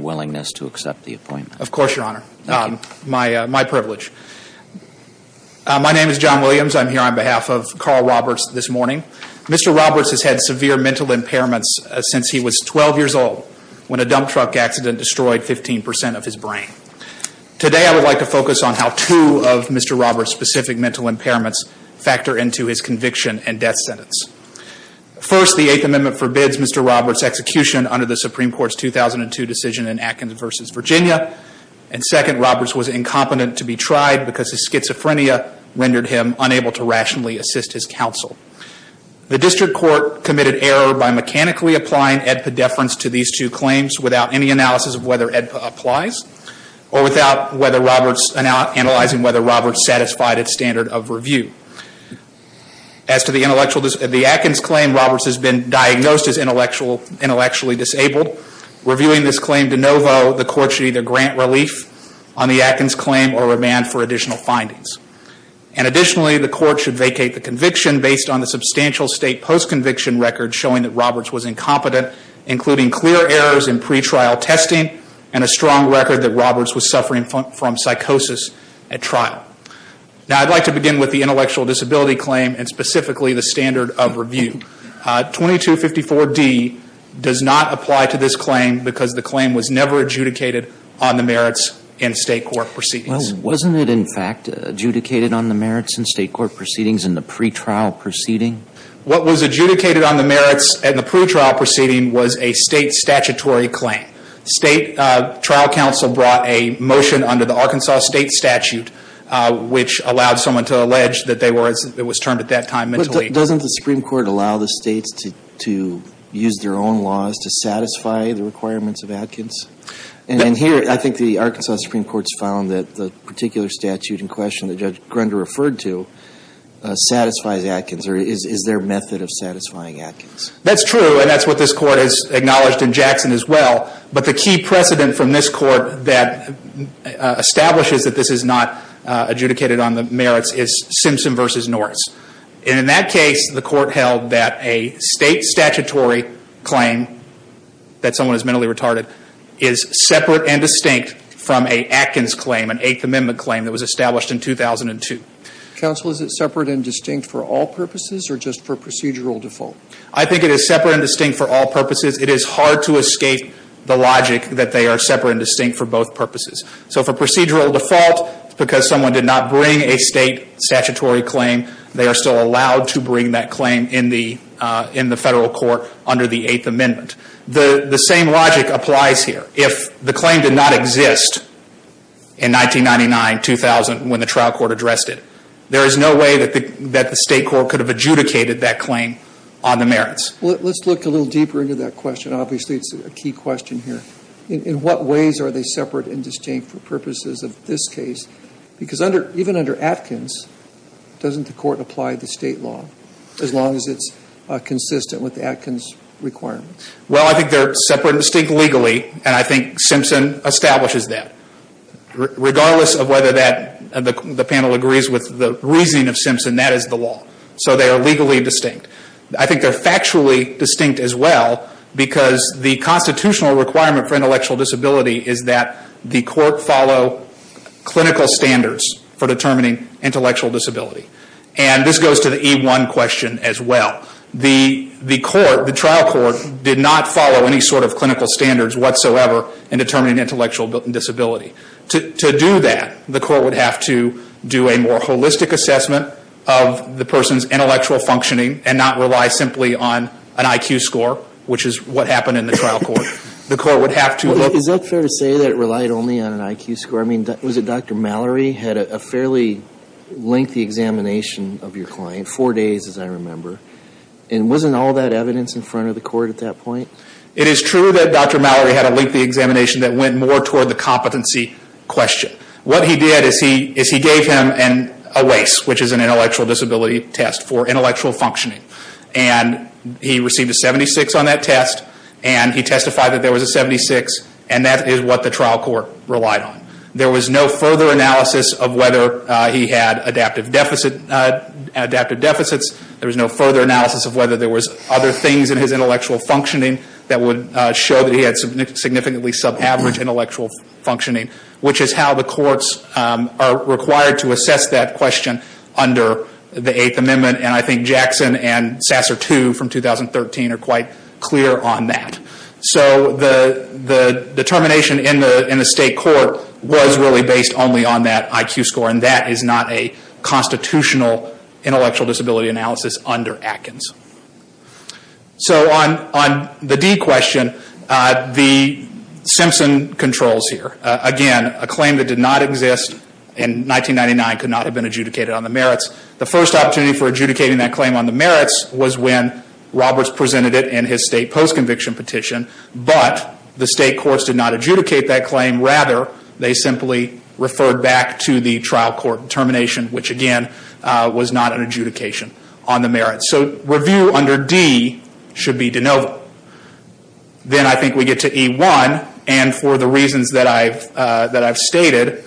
willingness to accept the appointment? Of course, Your Honor. Thank you. My privilege. My name is John Williams. I'm here on behalf of Carl Roberts this morning. Mr. Roberts has had severe mental impairments since he was 12 years old, when a dump truck accident destroyed 15 percent of his brain. Today, I would like to focus on how two of Mr. Roberts' specific mental impairments factor into his conviction and death sentence. First, the Eighth Amendment forbids Mr. Roberts' execution under the Supreme Court's 2002 decision in Atkins v. Virginia. And second, Roberts was incompetent to be tried because his schizophrenia rendered him unable to rationally assist his counsel. The district court committed error by mechanically applying AEDPA deference to these two claims without any analysis of whether AEDPA applies or without whether Roberts satisfied its standard of review. As to the Atkins claim, Roberts has been diagnosed as intellectually disabled. Reviewing this claim de novo, the court should either grant relief on the Atkins claim or remand for additional findings. And additionally, the court should vacate the conviction based on the substantial state post-conviction record showing that Roberts was incompetent, including clear errors in pretrial testing and a strong record that Roberts was suffering from psychosis at trial. Now, I'd like to begin with the intellectual disability claim and specifically the standard of review. 2254D does not apply to this claim because the claim was never adjudicated on the merits in state court proceedings. Well, wasn't it, in fact, adjudicated on the merits in state court proceedings in the pretrial proceeding? What was adjudicated on the merits in the pretrial proceeding was a state statutory claim. State trial counsel brought a motion under the Arkansas state statute which allowed someone to allege that they were, as it was termed at that time, mentally disabled. Doesn't the Supreme Court allow the states to use their own laws to satisfy the requirements of Atkins? And here, I think the Arkansas Supreme Court's found that the particular statute in question that Judge Grunder referred to satisfies Atkins. Or is there a method of satisfying Atkins? That's true, and that's what this court has acknowledged in Jackson as well. But the key precedent from this court that establishes that this is not adjudicated on the merits is Simpson v. Norris. And in that case, the court held that a state statutory claim that someone is mentally retarded is separate and distinct from a Atkins claim, an Eighth Amendment claim that was established in 2002. Counsel, is it separate and distinct for all purposes or just for procedural default? I think it is separate and distinct for all purposes. It is hard to escape the logic that they are separate and distinct for both purposes. So for procedural default, because someone did not bring a state statutory claim, they are still allowed to bring that claim in the federal court under the Eighth Amendment. The same logic applies here. If the claim did not exist in 1999-2000 when the trial court addressed it, there is no way that the state court could have adjudicated that claim on the merits. Let's look a little deeper into that question. Obviously, it's a key question here. In what ways are they separate and distinct for purposes of this case? Because even under Atkins, doesn't the court apply the state law as long as it's consistent with the Atkins requirements? Well, I think they are separate and distinct legally, and I think Simpson establishes that. Regardless of whether the panel agrees with the reasoning of Simpson, that is the law. So they are legally distinct. I think they are factually distinct as well, because the constitutional requirement for intellectual disability is that the court follow clinical standards for determining intellectual disability. And this goes to the E1 question as well. The trial court did not follow any sort of clinical standards whatsoever in determining intellectual disability. To do that, the court would have to do a more holistic assessment of the person's intellectual functioning and not rely simply on an IQ score, which is what happened in the trial court. The court would have to look... Is that fair to say that it relied only on an IQ score? I mean, was it Dr. Mallory had a fairly lengthy examination of your client, four days as I remember, and wasn't all that evidence in front of the court at that point? It is true that Dr. Mallory had a lengthy examination that went more toward the competency question. What he did is he gave him a WACE, which is an intellectual disability test for intellectual functioning. And he received a 76 on that test, and he testified that there was a 76, and that is what the trial court relied on. There was no further analysis of whether he had adaptive deficits. There was no further analysis of whether there was other things in his intellectual functioning that would show that he had significantly sub-average intellectual functioning, which is how the courts are required to assess that question under the Eighth Amendment. And I think Jackson and Sasser II from 2013 are quite clear on that. So the determination in the state court was really based only on that IQ score, and that is not a constitutional intellectual disability analysis under Atkins. So on the D question, the Simpson controls here. Again, a claim that did not exist in 1999 could not have been adjudicated on the merits. The first opportunity for adjudicating that claim on the merits was when Roberts presented it in his state post-conviction petition. But the state courts did not adjudicate that claim. Rather, they simply referred back to the trial court determination, which again was not an adjudication on the merits. So review under D should be de novo. Then I think we get to E1, and for the reasons that I've stated,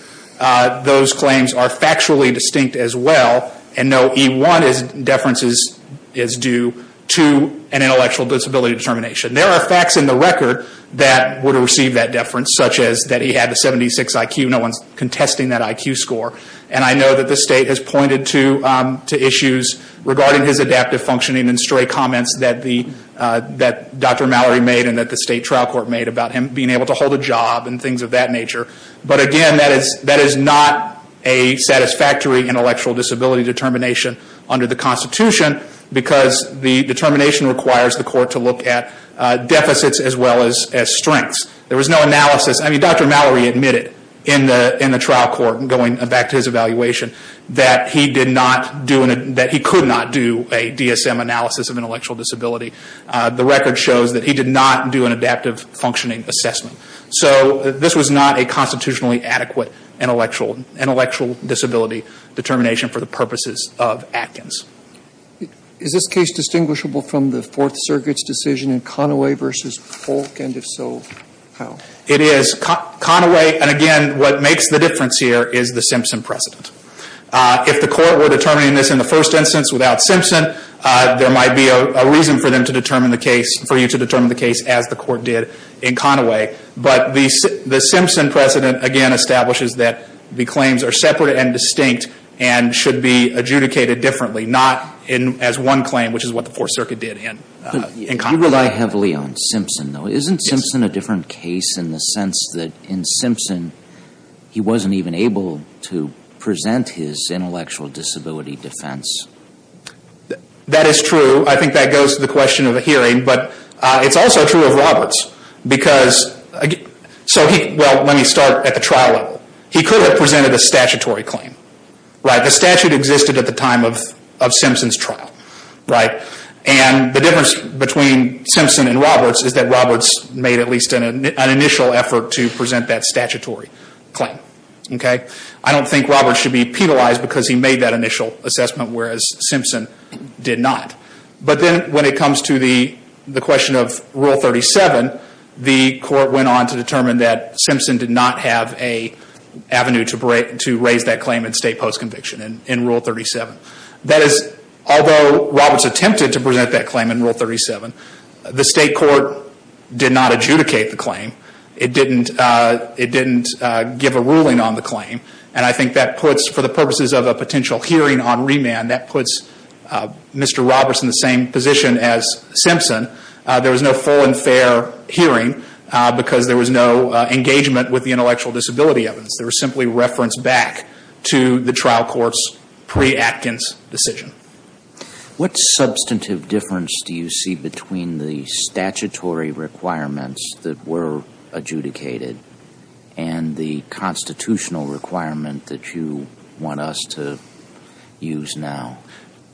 those claims are factually distinct as well, and no E1 deference is due to an intellectual disability determination. There are facts in the record that would have received that deference, such as that he had a 76 IQ. No one's contesting that IQ score. And I know that the state has pointed to issues regarding his adaptive functioning and stray comments that Dr. Mallory made and that the state trial court made about him being able to hold a job and things of that nature. But again, that is not a satisfactory intellectual disability determination under the Constitution because the determination requires the court to look at deficits as well as strengths. There was no analysis. I mean, Dr. Mallory admitted in the trial court, going back to his evaluation, that he could not do a DSM analysis of intellectual disability. The record shows that he did not do an adaptive functioning assessment. So this was not a constitutionally adequate intellectual disability determination for the purposes of Atkins. Is this case distinguishable from the Fourth Circuit's decision in Conaway v. Polk, and if so, how? It is. Conaway, and again, what makes the difference here is the Simpson precedent. If the court were determining this in the first instance without Simpson, there might be a reason for them to determine the case, for you to determine the case as the court did in Conaway. But the Simpson precedent, again, establishes that the claims are separate and distinct and should be adjudicated differently, not as one claim, which is what the Fourth Circuit did in Conaway. You rely heavily on Simpson, though. Isn't Simpson a different case in the sense that in Simpson he wasn't even able to present his intellectual disability defense? That is true. I think that goes to the question of the hearing. But it's also true of Roberts because, well, let me start at the trial level. He could have presented a statutory claim. The statute existed at the time of Simpson's trial. And the difference between Simpson and Roberts is that Roberts made at least an initial effort to present that statutory claim. I don't think Roberts should be penalized because he made that initial assessment, whereas Simpson did not. But then when it comes to the question of Rule 37, the court went on to determine that Simpson did not have an avenue to raise that claim in state post-conviction in Rule 37. That is, although Roberts attempted to present that claim in Rule 37, the state court did not adjudicate the claim. It didn't give a ruling on the claim. And I think that puts, for the purposes of a potential hearing on remand, that puts Mr. Roberts in the same position as Simpson. There was no full and fair hearing because there was no engagement with the intellectual disability evidence. There was simply reference back to the trial court's pre-Atkins decision. What substantive difference do you see between the statutory requirements that were adjudicated and the constitutional requirement that you want us to use now?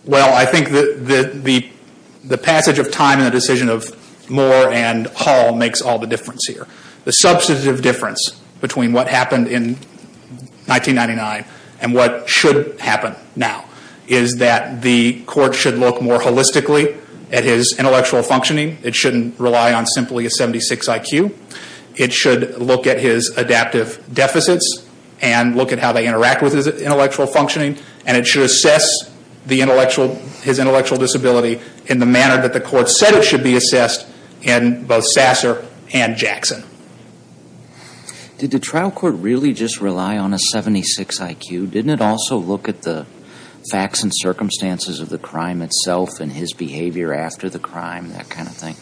Well, I think the passage of time in the decision of Moore and Hall makes all the difference here. The substantive difference between what happened in 1999 and what should happen now is that the court should look more holistically at his intellectual functioning. It shouldn't rely on simply a 76 IQ. It should look at his adaptive deficits and look at how they interact with his intellectual functioning. And it should assess his intellectual disability in the manner that the court said it should be assessed in both Sasser and Jackson. Did the trial court really just rely on a 76 IQ? Didn't it also look at the facts and circumstances of the crime itself and his behavior after the crime, that kind of thing?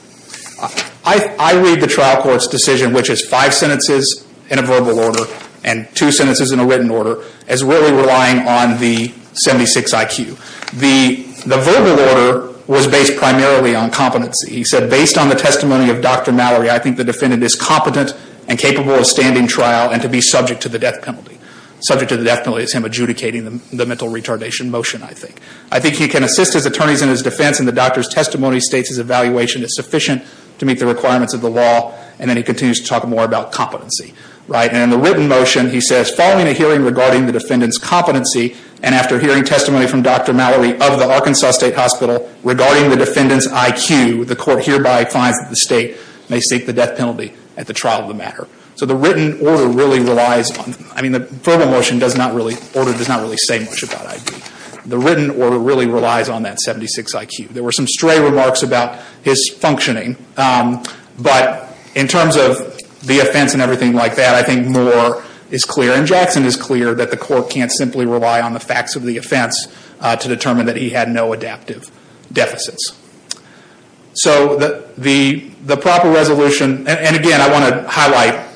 I read the trial court's decision, which is five sentences in a verbal order and two sentences in a written order, as really relying on the 76 IQ. The verbal order was based primarily on competency. He said, based on the testimony of Dr. Mallory, I think the defendant is competent and capable of standing trial and to be subject to the death penalty. Subject to the death penalty is him adjudicating the mental retardation motion, I think. I think he can assist his attorneys in his defense, and the doctor's testimony states his evaluation is sufficient to meet the requirements of the law. And then he continues to talk more about competency. And in the written motion, he says, following a hearing regarding the defendant's competency and after hearing testimony from Dr. Mallory of the Arkansas State Hospital regarding the defendant's IQ, the court hereby finds that the state may seek the death penalty at the trial of the matter. So the written order really relies on, I mean, the verbal order does not really say much about IQ. The written order really relies on that 76 IQ. There were some stray remarks about his functioning, but in terms of the offense and everything like that, I think Moore is clear and Jackson is clear that the court can't simply rely on the facts of the offense to determine that he had no adaptive deficits. So the proper resolution, and again, I want to highlight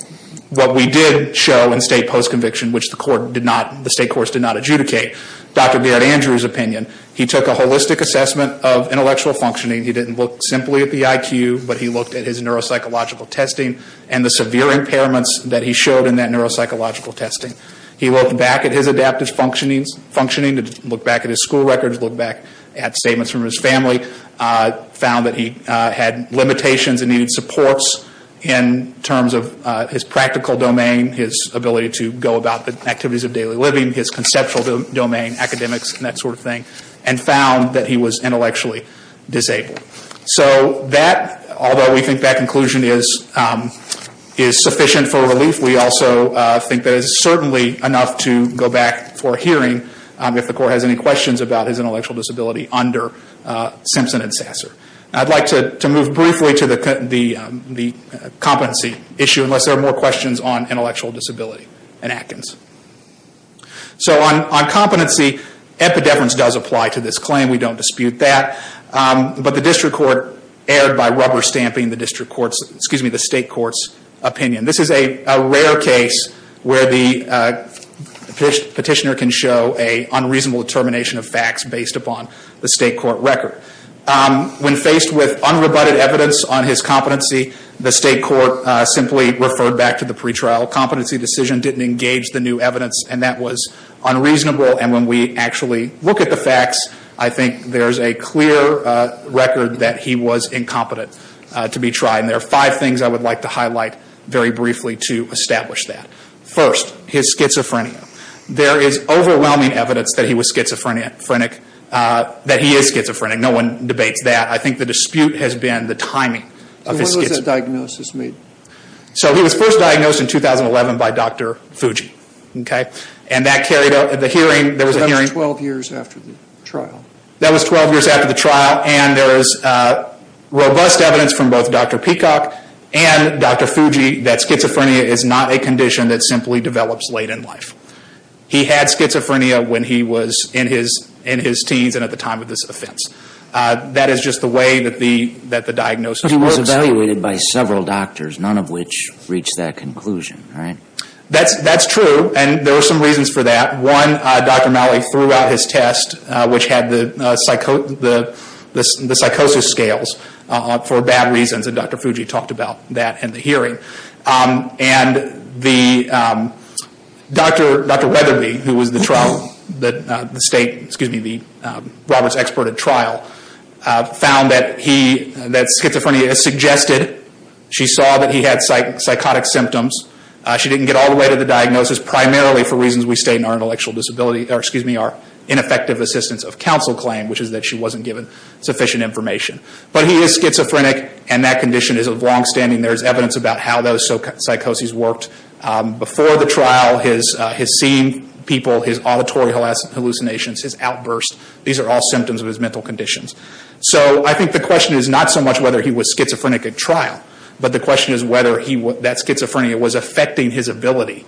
what we did show in state post-conviction, which the state courts did not adjudicate. Dr. Garrett Andrews' opinion, he took a holistic assessment of intellectual functioning. He didn't look simply at the IQ, but he looked at his neuropsychological testing and the severe impairments that he showed in that neuropsychological testing. He looked back at his adaptive functioning, looked back at his school records, looked back at statements from his family, found that he had limitations and needed supports in terms of his practical domain, his ability to go about the activities of daily living, his conceptual domain, academics and that sort of thing, and found that he was intellectually disabled. So that, although we think that conclusion is sufficient for relief, we also think that it is certainly enough to go back for a hearing if the court has any questions about his intellectual disability under Simpson and Sasser. I'd like to move briefly to the competency issue, unless there are more questions on intellectual disability in Atkins. So on competency, epideverance does apply to this claim. We don't dispute that. But the district court erred by rubber stamping the state court's opinion. This is a rare case where the petitioner can show an unreasonable determination of facts based upon the state court record. When faced with unrebutted evidence on his competency, the state court simply referred back to the pretrial competency decision, didn't engage the new evidence, and that was unreasonable. And when we actually look at the facts, I think there's a clear record that he was incompetent to be tried. And there are five things I would like to highlight very briefly to establish that. First, his schizophrenia. There is overwhelming evidence that he was schizophrenic, that he is schizophrenic. No one debates that. I think the dispute has been the timing of his schizophrenia. So when was the diagnosis made? So he was first diagnosed in 2011 by Dr. Fuji. And that carried out, the hearing, there was a hearing. So that was 12 years after the trial. That was 12 years after the trial. And there is robust evidence from both Dr. Peacock and Dr. Fuji that schizophrenia is not a condition that simply develops late in life. He had schizophrenia when he was in his teens and at the time of this offense. That is just the way that the diagnosis works. But he was evaluated by several doctors, none of which reached that conclusion, right? That's true, and there were some reasons for that. One, Dr. Malley threw out his test, which had the psychosis scales, for bad reasons, and Dr. Fuji talked about that in the hearing. And Dr. Weatherby, who was the trial, the state, excuse me, the Roberts expert at trial, found that he, that schizophrenia suggested, she saw that he had psychotic symptoms. She didn't get all the way to the diagnosis, primarily for reasons we state in our intellectual disability, or excuse me, our ineffective assistance of counsel claim, which is that she wasn't given sufficient information. But he is schizophrenic, and that condition is of long standing. There is evidence about how those psychoses worked. Before the trial, his seeing people, his auditory hallucinations, his outbursts, these are all symptoms of his mental conditions. So I think the question is not so much whether he was schizophrenic at trial, but the question is whether that schizophrenia was affecting his ability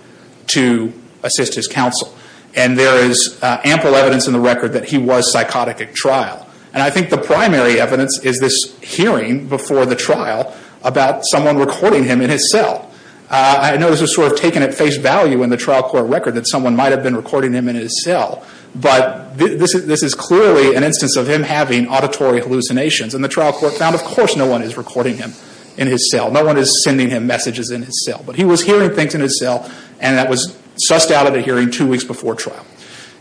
to assist his counsel. And there is ample evidence in the record that he was psychotic at trial. And I think the primary evidence is this hearing before the trial about someone recording him in his cell. I know this was sort of taken at face value in the trial court record that someone might have been recording him in his cell, but this is clearly an instance of him having auditory hallucinations. And the trial court found, of course, no one is recording him in his cell. No one is sending him messages in his cell. But he was hearing things in his cell, and that was sussed out at a hearing two weeks before trial.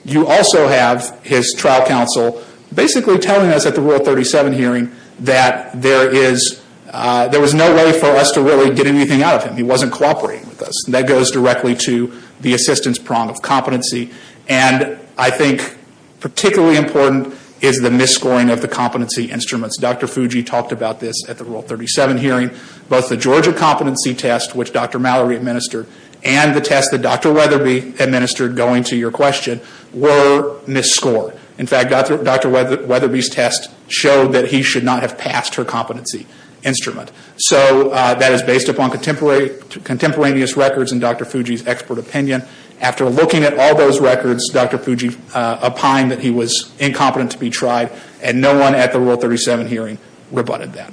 You also have his trial counsel basically telling us at the Rule 37 hearing that there was no way for us to really get anything out of him. He wasn't cooperating with us. And that goes directly to the assistance prong of competency. And I think particularly important is the misscoring of the competency instruments. Dr. Fuji talked about this at the Rule 37 hearing. Both the Georgia competency test, which Dr. Mallory administered, and the test that Dr. Weatherby administered, going to your question, were misscored. In fact, Dr. Weatherby's test showed that he should not have passed her competency instrument. So that is based upon contemporaneous records and Dr. Fuji's expert opinion. After looking at all those records, Dr. Fuji opined that he was incompetent to be tried, and no one at the Rule 37 hearing rebutted that.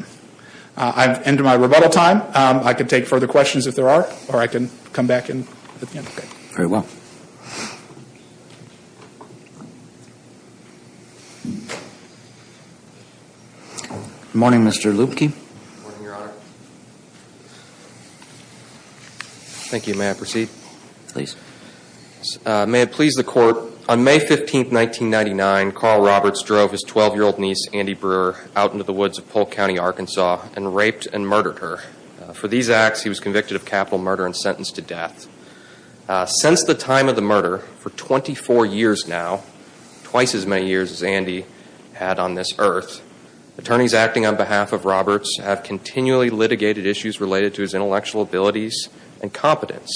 I've ended my rebuttal time. I can take further questions if there are, or I can come back in at the end. Very well. Good morning, Mr. Lubke. Good morning, Your Honor. Thank you. May I proceed? Please. May it please the Court, on May 15, 1999, Carl Roberts drove his 12-year-old niece, Andy Brewer, out into the woods of Polk County, Arkansas, and raped and murdered her. For these acts, he was convicted of capital murder and sentenced to death. Since the time of the murder, for 24 years now, twice as many years as Andy had on this earth, attorneys acting on behalf of Roberts have continually litigated issues related to his intellectual abilities and competence.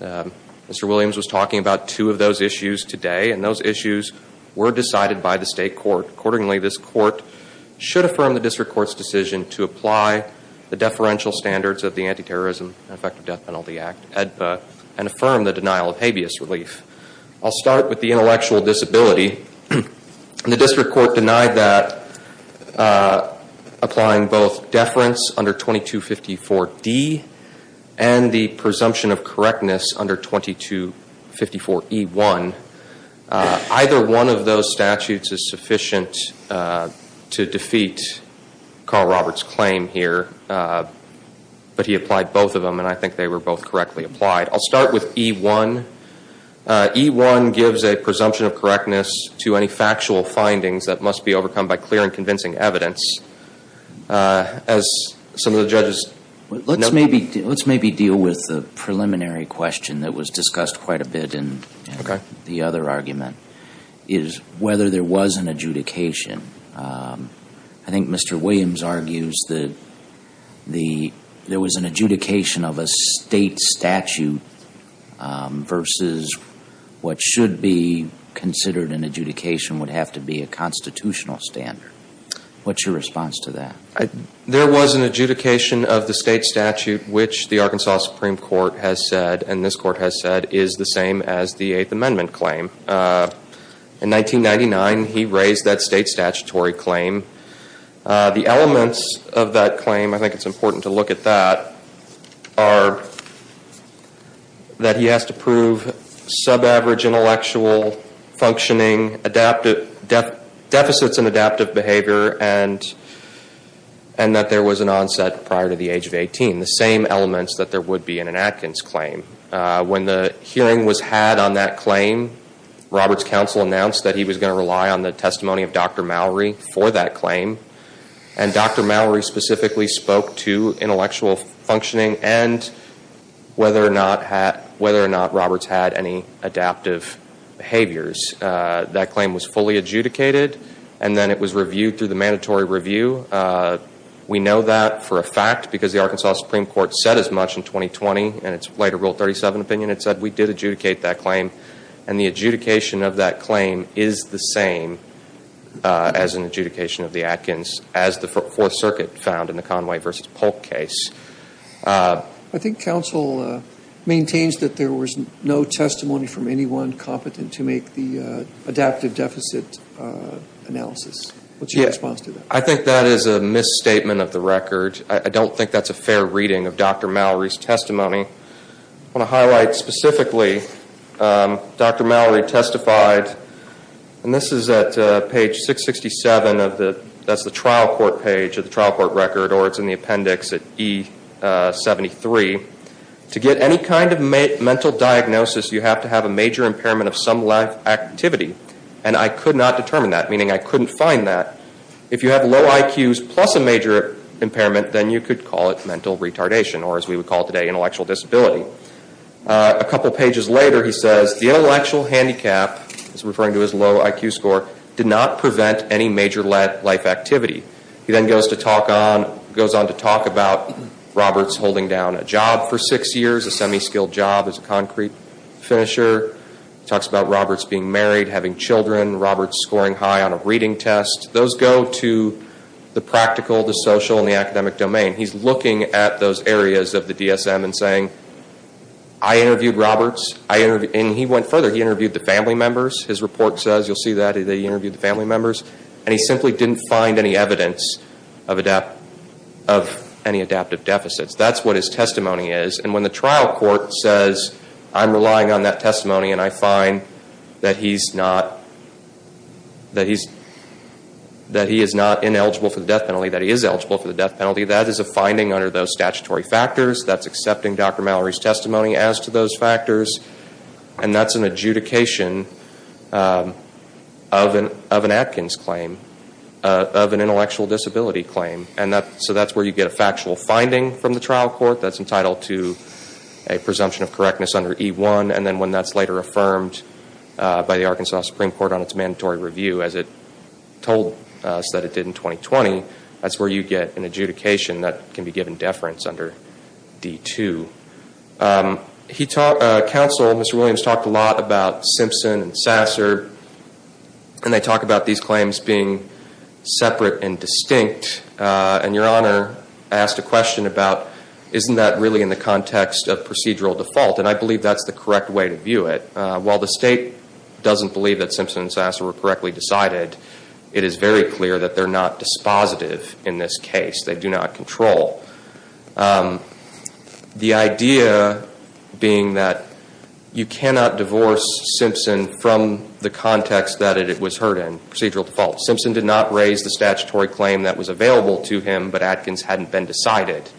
Mr. Williams was talking about two of those issues today, and those issues were decided by the state court. Accordingly, this court should affirm the district court's decision to apply the deferential standards of the Anti-Terrorism and Effective Death Penalty Act, AEDPA, and affirm the denial of habeas relief. I'll start with the intellectual disability. The district court denied that, applying both deference under 2254D and the presumption of correctness under 2254E1. Either one of those statutes is sufficient to defeat Carl Roberts' claim here, but he applied both of them, and I think they were both correctly applied. I'll start with E1. E1 gives a presumption of correctness to any factual findings that must be overcome by clear and convincing evidence. As some of the judges know. Let's maybe deal with the preliminary question that was discussed quite a bit in the other argument, is whether there was an adjudication. I think Mr. Williams argues that there was an adjudication of a state statute versus what should be considered an adjudication would have to be a constitutional standard. What's your response to that? There was an adjudication of the state statute, which the Arkansas Supreme Court has said, and this court has said, is the same as the Eighth Amendment claim. In 1999, he raised that state statutory claim. The elements of that claim, I think it's important to look at that, are that he has to prove sub-average intellectual functioning, deficits in adaptive behavior, and that there was an onset prior to the age of 18. The same elements that there would be in an Atkins claim. When the hearing was had on that claim, Roberts' counsel announced that he was going to rely on the testimony of Dr. Mallory for that claim, and Dr. Mallory specifically spoke to intellectual functioning and whether or not Roberts had any adaptive behaviors. That claim was fully adjudicated, and then it was reviewed through the mandatory review. We know that for a fact because the Arkansas Supreme Court said as much in 2020, and its later Rule 37 opinion had said we did adjudicate that claim, and the adjudication of that claim is the same as an adjudication of the Atkins, as the Fourth Circuit found in the Conway v. Polk case. I think counsel maintains that there was no testimony from anyone competent to make the adaptive deficit analysis. What's your response to that? I think that is a misstatement of the record. I don't think that's a fair reading of Dr. Mallory's testimony. I want to highlight specifically Dr. Mallory testified, and this is at page 667 of the trial court record, or it's in the appendix at E73. To get any kind of mental diagnosis, you have to have a major impairment of some life activity, and I could not determine that, meaning I couldn't find that. If you have low IQs plus a major impairment, then you could call it mental retardation, or as we would call it today, intellectual disability. A couple pages later, he says the intellectual handicap, he's referring to his low IQ score, did not prevent any major life activity. He then goes on to talk about Roberts holding down a job for six years, a semi-skilled job as a concrete finisher. He talks about Roberts being married, having children, Roberts scoring high on a reading test. Those go to the practical, the social, and the academic domain. He's looking at those areas of the DSM and saying, I interviewed Roberts, and he went further, he interviewed the family members. His report says, you'll see that, that he interviewed the family members, and he simply didn't find any evidence of any adaptive deficits. That's what his testimony is. When the trial court says, I'm relying on that testimony, and I find that he is not ineligible for the death penalty, that he is eligible for the death penalty, that is a finding under those statutory factors. That's accepting Dr. Mallory's testimony as to those factors, and that's an adjudication of an Atkins claim, of an intellectual disability claim. That's where you get a factual finding from the trial court that's entitled to a presumption of correctness under E-1, and then when that's later affirmed by the Arkansas Supreme Court on its mandatory review, as it told us that it did in 2020, that's where you get an adjudication that can be given deference under D-2. Counsel, Mr. Williams, talked a lot about Simpson and Sasser, and they talk about these claims being separate and distinct, and Your Honor asked a question about isn't that really in the context of procedural default, and I believe that's the correct way to view it. While the state doesn't believe that Simpson and Sasser were correctly decided, it is very clear that they're not dispositive in this case. They do not control. The idea being that you cannot divorce Simpson from the context that it was heard in, procedural default. Simpson did not raise the statutory claim that was available to him, but Atkins hadn't been decided.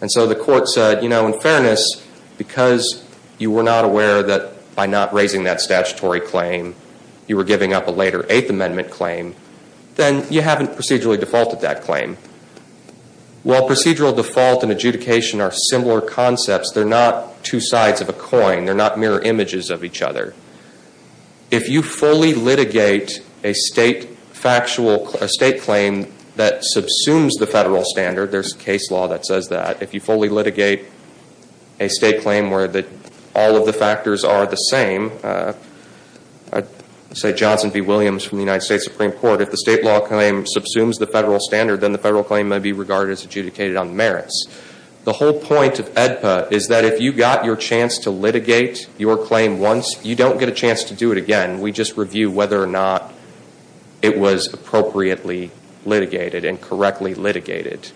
And so the court said, you know, in fairness, because you were not aware that by not raising that statutory claim, you were giving up a later Eighth Amendment claim, then you haven't procedurally defaulted that claim. While procedural default and adjudication are similar concepts, they're not two sides of a coin. They're not mirror images of each other. If you fully litigate a state claim that subsumes the federal standard, there's case law that says that. If you fully litigate a state claim where all of the factors are the same, say Johnson v. Williams from the United States Supreme Court, if the state law claim subsumes the federal standard, then the federal claim may be regarded as adjudicated on merits. The whole point of AEDPA is that if you got your chance to litigate your claim once, you don't get a chance to do it again. We just review whether or not it was appropriately litigated and correctly litigated.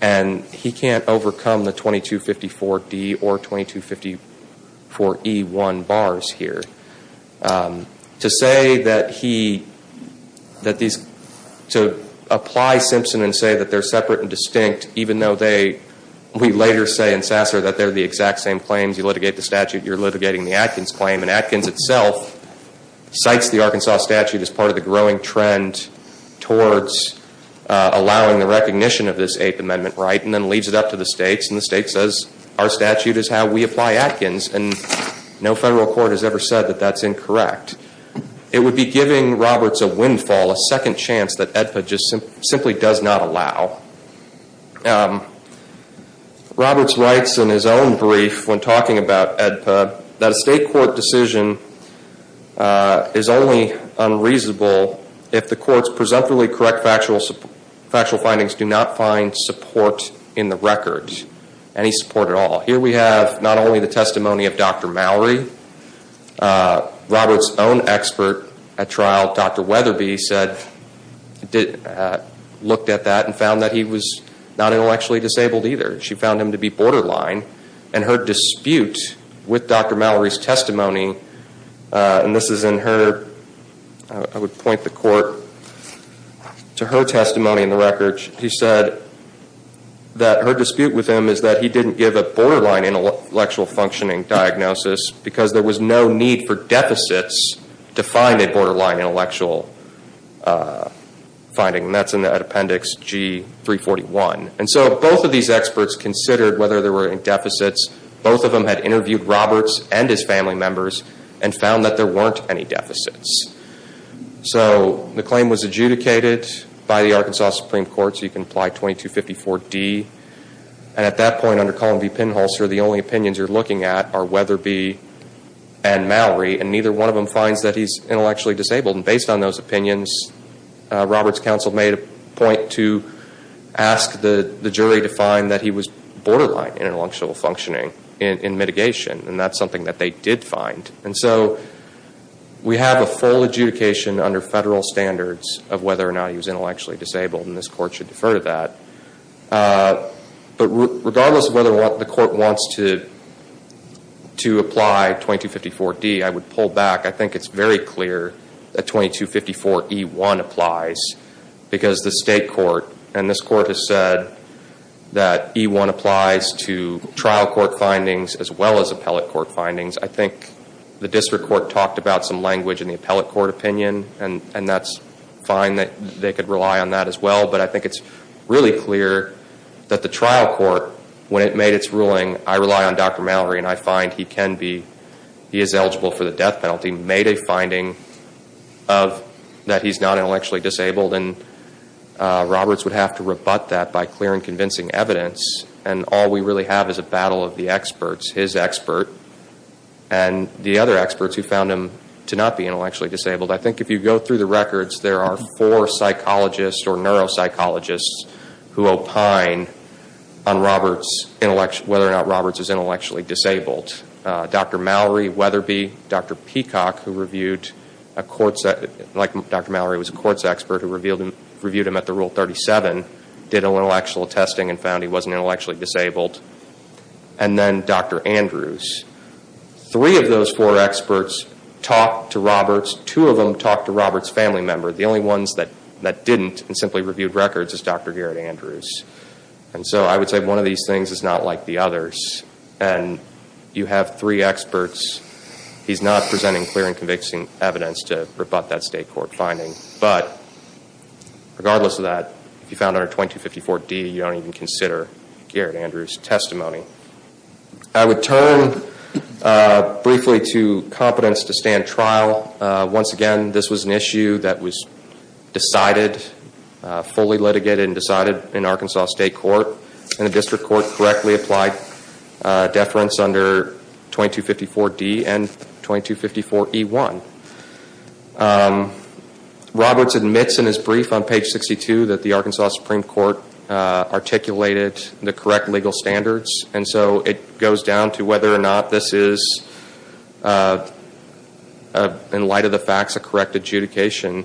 And he can't overcome the 2254D or 2254E1 bars here. To say that he, that these, to apply Simpson and say that they're separate and distinct, even though they, we later say in Sasser that they're the exact same claims. You litigate the statute, you're litigating the Atkins claim. And Atkins itself cites the Arkansas statute as part of the growing trend towards allowing the recognition of this Eighth Amendment right and then leads it up to the states. And the state says our statute is how we apply Atkins. And no federal court has ever said that that's incorrect. It would be giving Roberts a windfall, a second chance that AEDPA just simply does not allow. Roberts writes in his own brief when talking about AEDPA that a state court decision is only unreasonable if the courts presumptively correct factual findings do not find support in the record, any support at all. Here we have not only the testimony of Dr. Mallory. Roberts' own expert at trial, Dr. Weatherby, said, looked at that and found that he was not intellectually disabled either. She found him to be borderline. And her dispute with Dr. Mallory's testimony, and this is in her, I would point the court to her testimony in the record. She said that her dispute with him is that he didn't give a borderline intellectual functioning diagnosis because there was no need for deficits to find a borderline intellectual finding. And that's in Appendix G341. And so both of these experts considered whether there were any deficits. Both of them had interviewed Roberts and his family members and found that there weren't any deficits. So the claim was adjudicated by the Arkansas Supreme Court. So you can apply 2254D. And at that point under Columby-Penhulster, the only opinions you're looking at are Weatherby and Mallory. And neither one of them finds that he's intellectually disabled. And based on those opinions, Roberts' counsel made a point to ask the jury to find that he was borderline intellectual functioning in mitigation. And that's something that they did find. And so we have a full adjudication under federal standards of whether or not he was intellectually disabled, and this court should defer to that. But regardless of whether the court wants to apply 2254D, I would pull back. I think it's very clear that 2254E1 applies because the state court, and this court has said that E1 applies to trial court findings as well as appellate court findings. I think the district court talked about some language in the appellate court opinion, and that's fine that they could rely on that as well. But I think it's really clear that the trial court, when it made its ruling, I rely on Dr. Mallory and I find he can be, he is eligible for the death penalty, made a finding that he's not intellectually disabled. And Roberts would have to rebut that by clearing convincing evidence. And all we really have is a battle of the experts. His expert and the other experts who found him to not be intellectually disabled. I think if you go through the records, there are four psychologists or neuropsychologists who opine on whether or not Roberts is intellectually disabled. Dr. Mallory, Weatherby, Dr. Peacock, who reviewed, like Dr. Mallory was a courts expert, who reviewed him at the Rule 37, did a little actual testing and found he wasn't intellectually disabled. And then Dr. Andrews. Three of those four experts talked to Roberts. Two of them talked to Roberts' family member. The only ones that didn't and simply reviewed records is Dr. Garrett Andrews. And so I would say one of these things is not like the others. And you have three experts. He's not presenting clear and convicting evidence to rebut that state court finding. But regardless of that, if you found under 2254D, you don't even consider Garrett Andrews' testimony. I would turn briefly to competence to stand trial. Once again, this was an issue that was decided, fully litigated and decided in Arkansas State Court. And the district court correctly applied deference under 2254D and 2254E1. Roberts admits in his brief on page 62 that the Arkansas Supreme Court articulated the correct legal standards. And so it goes down to whether or not this is, in light of the facts, a correct adjudication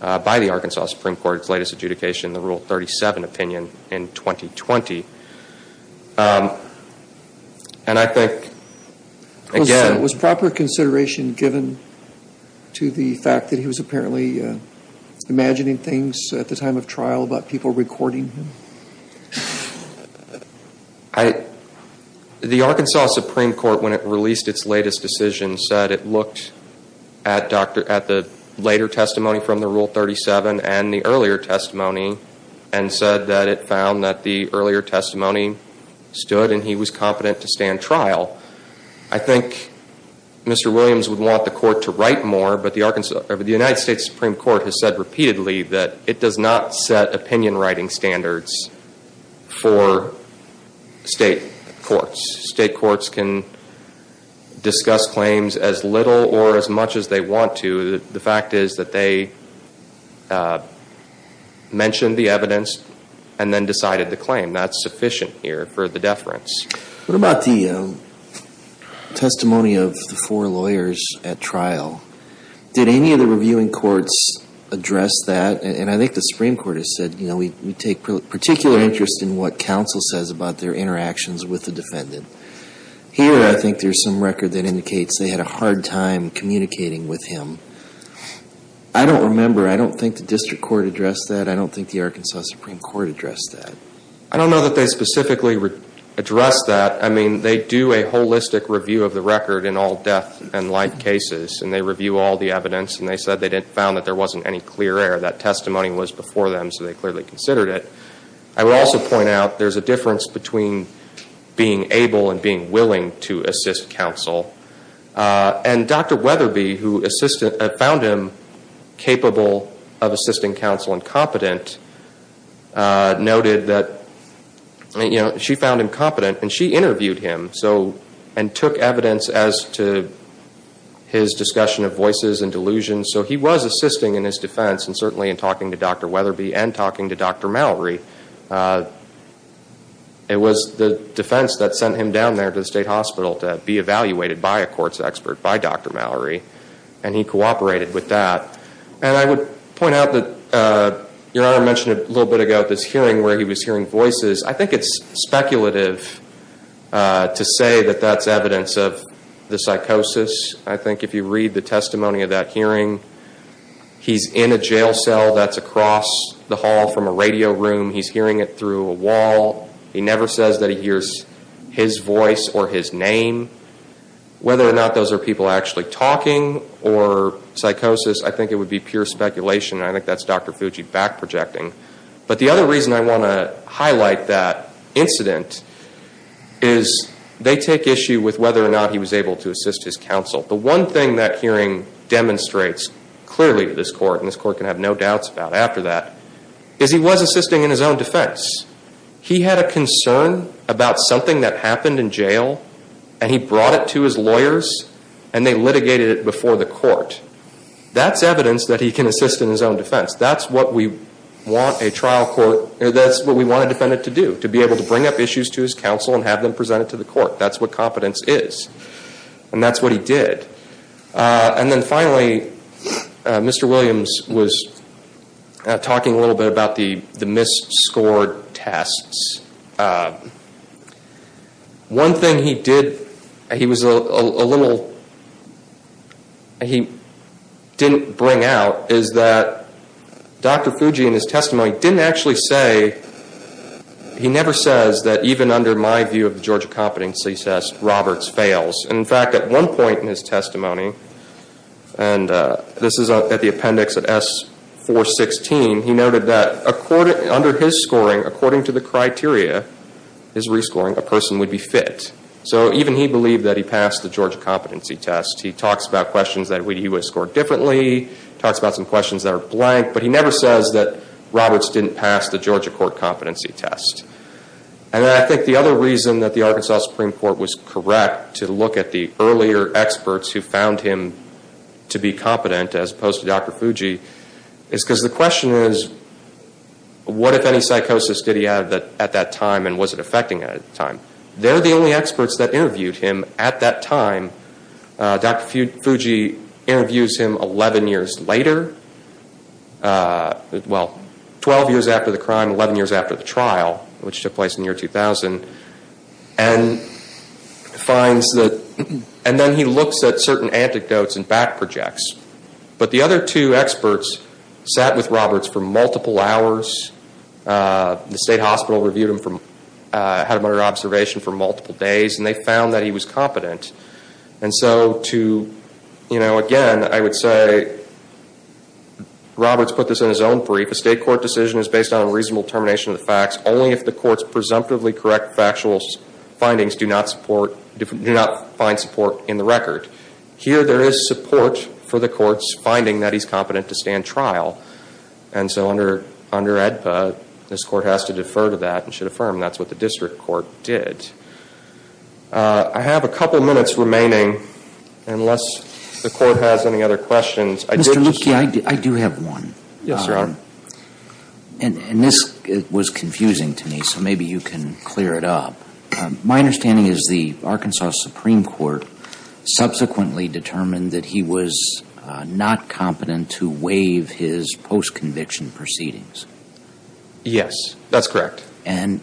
by the Arkansas Supreme Court's latest adjudication, the Rule 37 opinion in 2020. And I think, again- Was proper consideration given to the fact that he was apparently imagining things at the time of trial about people recording him? The Arkansas Supreme Court, when it released its latest decision, said it looked at the later testimony from the Rule 37 and the earlier testimony and said that it found that the earlier testimony stood and he was competent to stand trial. I think Mr. Williams would want the court to write more, but the United States Supreme Court has said repeatedly that it does not set opinion writing standards for state courts. State courts can discuss claims as little or as much as they want to. The fact is that they mentioned the evidence and then decided the claim. That's sufficient here for the deference. What about the testimony of the four lawyers at trial? Did any of the reviewing courts address that? And I think the Supreme Court has said, you know, we take particular interest in what counsel says about their interactions with the defendant. Here, I think there's some record that indicates they had a hard time communicating with him. I don't remember. I don't think the district court addressed that. I don't think the Arkansas Supreme Court addressed that. I don't know that they specifically addressed that. I mean, they do a holistic review of the record in all death and light cases, and they review all the evidence, and they said they found that there wasn't any clear error. That testimony was before them, so they clearly considered it. I would also point out there's a difference between being able and being willing to assist counsel. And Dr. Weatherby, who found him capable of assisting counsel and competent, noted that she found him competent, and she interviewed him and took evidence as to his discussion of voices and delusions. So he was assisting in his defense, and certainly in talking to Dr. Weatherby and talking to Dr. Mallory. It was the defense that sent him down there to the state hospital to be evaluated by a courts expert, by Dr. Mallory, and he cooperated with that. And I would point out that Your Honor mentioned a little bit ago this hearing where he was hearing voices. I think it's speculative to say that that's evidence of the psychosis. I think if you read the testimony of that hearing, he's in a jail cell that's across the hall from a radio room. He's hearing it through a wall. He never says that he hears his voice or his name. Whether or not those are people actually talking or psychosis, I think it would be pure speculation. I think that's Dr. Fuji back-projecting. But the other reason I want to highlight that incident is they take issue with whether or not he was able to assist his counsel. The one thing that hearing demonstrates clearly to this court, and this court can have no doubts about after that, is he was assisting in his own defense. He had a concern about something that happened in jail, and he brought it to his lawyers, and they litigated it before the court. That's evidence that he can assist in his own defense. That's what we want a trial court, that's what we want a defendant to do, to be able to bring up issues to his counsel and have them presented to the court. That's what competence is. And that's what he did. And then finally, Mr. Williams was talking a little bit about the misscored tests. One thing he did, he was a little, he didn't bring out, is that Dr. Fuji in his testimony didn't actually say, he never says that even under my view of the Georgia competency test, Roberts fails. In fact, at one point in his testimony, and this is at the appendix at S-416, he noted that under his scoring, according to the criteria, his rescoring, a person would be fit. So even he believed that he passed the Georgia competency test. He talks about questions that he would have scored differently, talks about some questions that are blank, but he never says that Roberts didn't pass the Georgia court competency test. And I think the other reason that the Arkansas Supreme Court was correct to look at the earlier experts who found him to be competent, as opposed to Dr. Fuji, is because the question is, what if any psychosis did he have at that time and was it affecting him at that time? They're the only experts that interviewed him at that time. Dr. Fuji interviews him 11 years later, well, 12 years after the crime, 11 years after the trial, which took place in the year 2000, and then he looks at certain anecdotes and back projects. But the other two experts sat with Roberts for multiple hours. The state hospital reviewed him, had him under observation for multiple days, and they found that he was competent. And so to, you know, again, I would say Roberts put this in his own brief. A state court decision is based on a reasonable termination of the facts only if the court's presumptively correct factual findings do not support, do not find support in the record. Here there is support for the court's finding that he's competent to stand trial. And so under AEDPA, this court has to defer to that and should affirm that's what the district court did. I have a couple minutes remaining unless the court has any other questions. Mr. Lucchi, I do have one. Yes, Your Honor. And this was confusing to me, so maybe you can clear it up. My understanding is the Arkansas Supreme Court subsequently determined that he was not competent to waive his post-conviction proceedings. Yes, that's correct. And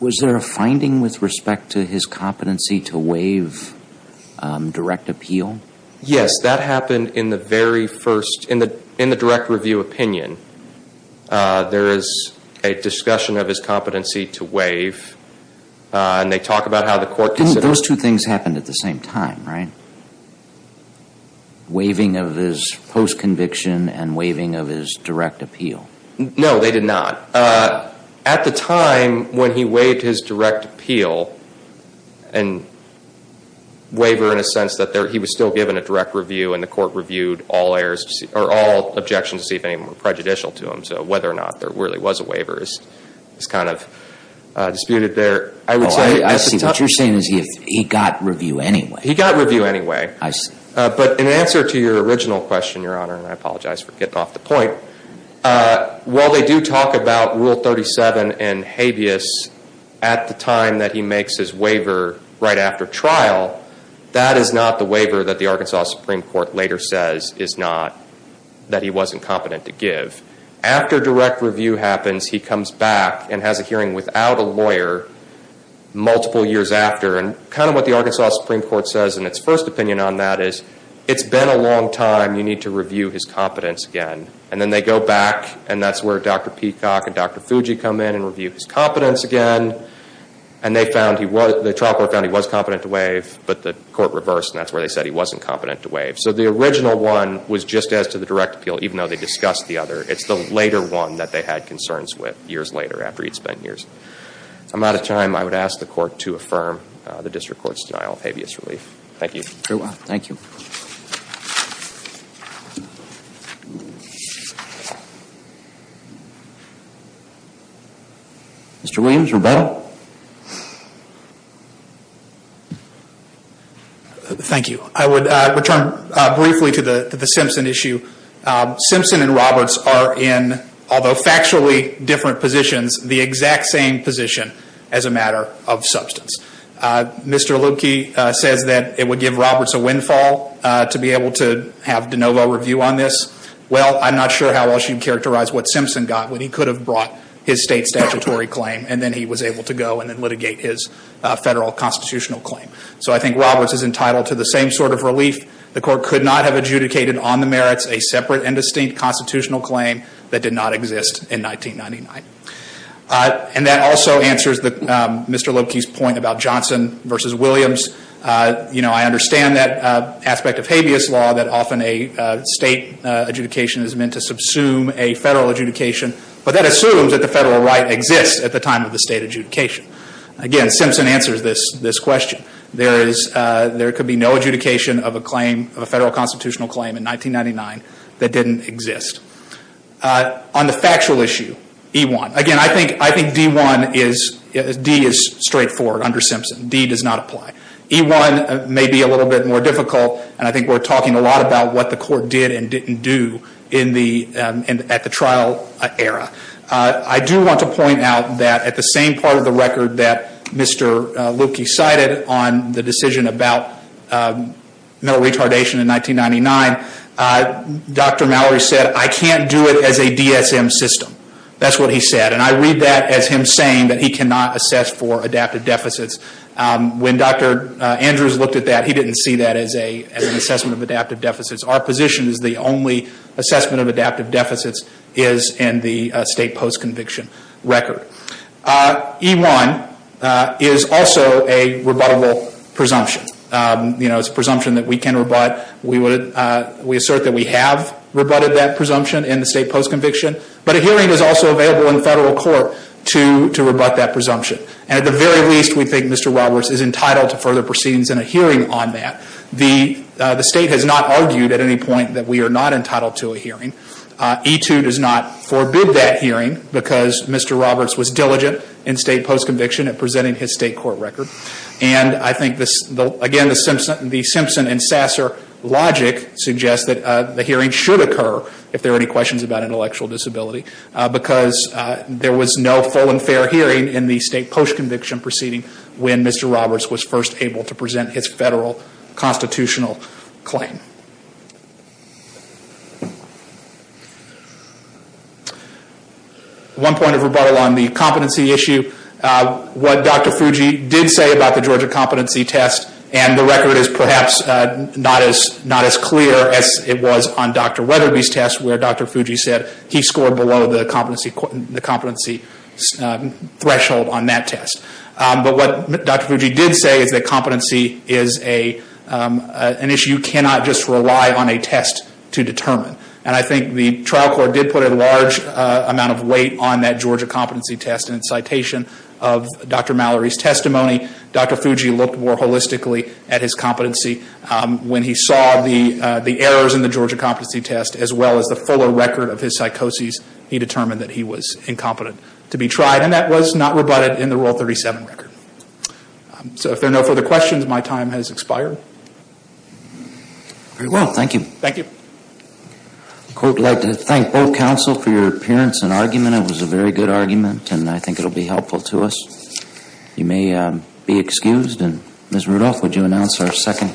was there a finding with respect to his competency to waive direct appeal? Yes, that happened in the very first, in the direct review opinion. There is a discussion of his competency to waive, and they talk about how the court considered it. Those two things happened at the same time, right? Waiving of his post-conviction and waiving of his direct appeal. No, they did not. At the time when he waived his direct appeal, and waiver in a sense that he was still given a direct review and the court reviewed all objections to see if any were prejudicial to him, so whether or not there really was a waiver is kind of disputed there. I see. What you're saying is he got review anyway. He got review anyway. I see. But in answer to your original question, Your Honor, and I apologize for getting off the point, while they do talk about Rule 37 and habeas at the time that he makes his waiver right after trial, that is not the waiver that the Arkansas Supreme Court later says is not, that he wasn't competent to give. After direct review happens, he comes back and has a hearing without a lawyer multiple years after, and kind of what the Arkansas Supreme Court says in its first opinion on that is, it's been a long time. You need to review his competence again. And then they go back, and that's where Dr. Peacock and Dr. Fuji come in and review his competence again, and the trial court found he was competent to waive, but the court reversed, and that's where they said he wasn't competent to waive. So the original one was just as to the direct appeal, even though they discussed the other. It's the later one that they had concerns with years later after he'd spent years. I'm out of time. I would ask the court to affirm the district court's denial of habeas relief. Thank you. Very well. Thank you. Mr. Williams, rebuttal. Thank you. I would return briefly to the Simpson issue. Simpson and Roberts are in, although factually different positions, the exact same position as a matter of substance. Mr. Loebke says that it would give Roberts a windfall to be able to have de novo review on this. Well, I'm not sure how well she'd characterize what Simpson got when he could have brought his state statutory claim, and then he was able to go and then litigate his federal constitutional claim. So I think Roberts is entitled to the same sort of relief. The court could not have adjudicated on the merits a separate and distinct constitutional claim that did not exist in 1999. And that also answers Mr. Loebke's point about Johnson v. Williams. You know, I understand that aspect of habeas law, that often a state adjudication is meant to subsume a federal adjudication, but that assumes that the federal right exists at the time of the state adjudication. Again, Simpson answers this question. There could be no adjudication of a federal constitutional claim in 1999 that didn't exist. On the factual issue, E-1. Again, I think D-1 is straightforward under Simpson. D does not apply. E-1 may be a little bit more difficult, and I think we're talking a lot about what the court did and didn't do at the trial era. I do want to point out that at the same part of the record that Mr. Loebke cited on the decision about mental retardation in 1999, Dr. Mallory said, I can't do it as a DSM system. That's what he said, and I read that as him saying that he cannot assess for adaptive deficits. When Dr. Andrews looked at that, he didn't see that as an assessment of adaptive deficits. Our position is the only assessment of adaptive deficits is in the state post-conviction record. E-1 is also a rebuttable presumption. It's a presumption that we can rebut. We assert that we have rebutted that presumption in the state post-conviction, but a hearing is also available in federal court to rebut that presumption. At the very least, we think Mr. Roberts is entitled to further proceedings in a hearing on that. The state has not argued at any point that we are not entitled to a hearing. E-2 does not forbid that hearing because Mr. Roberts was diligent in state post-conviction at presenting his state court record. And I think, again, the Simpson and Sasser logic suggests that the hearing should occur if there are any questions about intellectual disability because there was no full and fair hearing in the state post-conviction proceeding when Mr. Roberts was first able to present his federal constitutional claim. One point of rebuttal on the competency issue. What Dr. Fuji did say about the Georgia competency test and the record is perhaps not as clear as it was on Dr. Weatherby's test where Dr. Fuji said he scored below the competency threshold on that test. But what Dr. Fuji did say is that competency is an issue you cannot just rely on a test to determine. And I think the trial court did put a large amount of weight on that Georgia competency test in its citation of Dr. Mallory's testimony. Dr. Fuji looked more holistically at his competency. When he saw the errors in the Georgia competency test as well as the fuller record of his psychoses, he determined that he was incompetent to be tried. And that was not rebutted in the Rule 37 record. So if there are no further questions, my time has expired. Very well. Thank you. Thank you. I'd like to thank both counsel for your appearance and argument. It was a very good argument and I think it will be helpful to us. You may be excused. Ms. Rudolph, would you announce our second?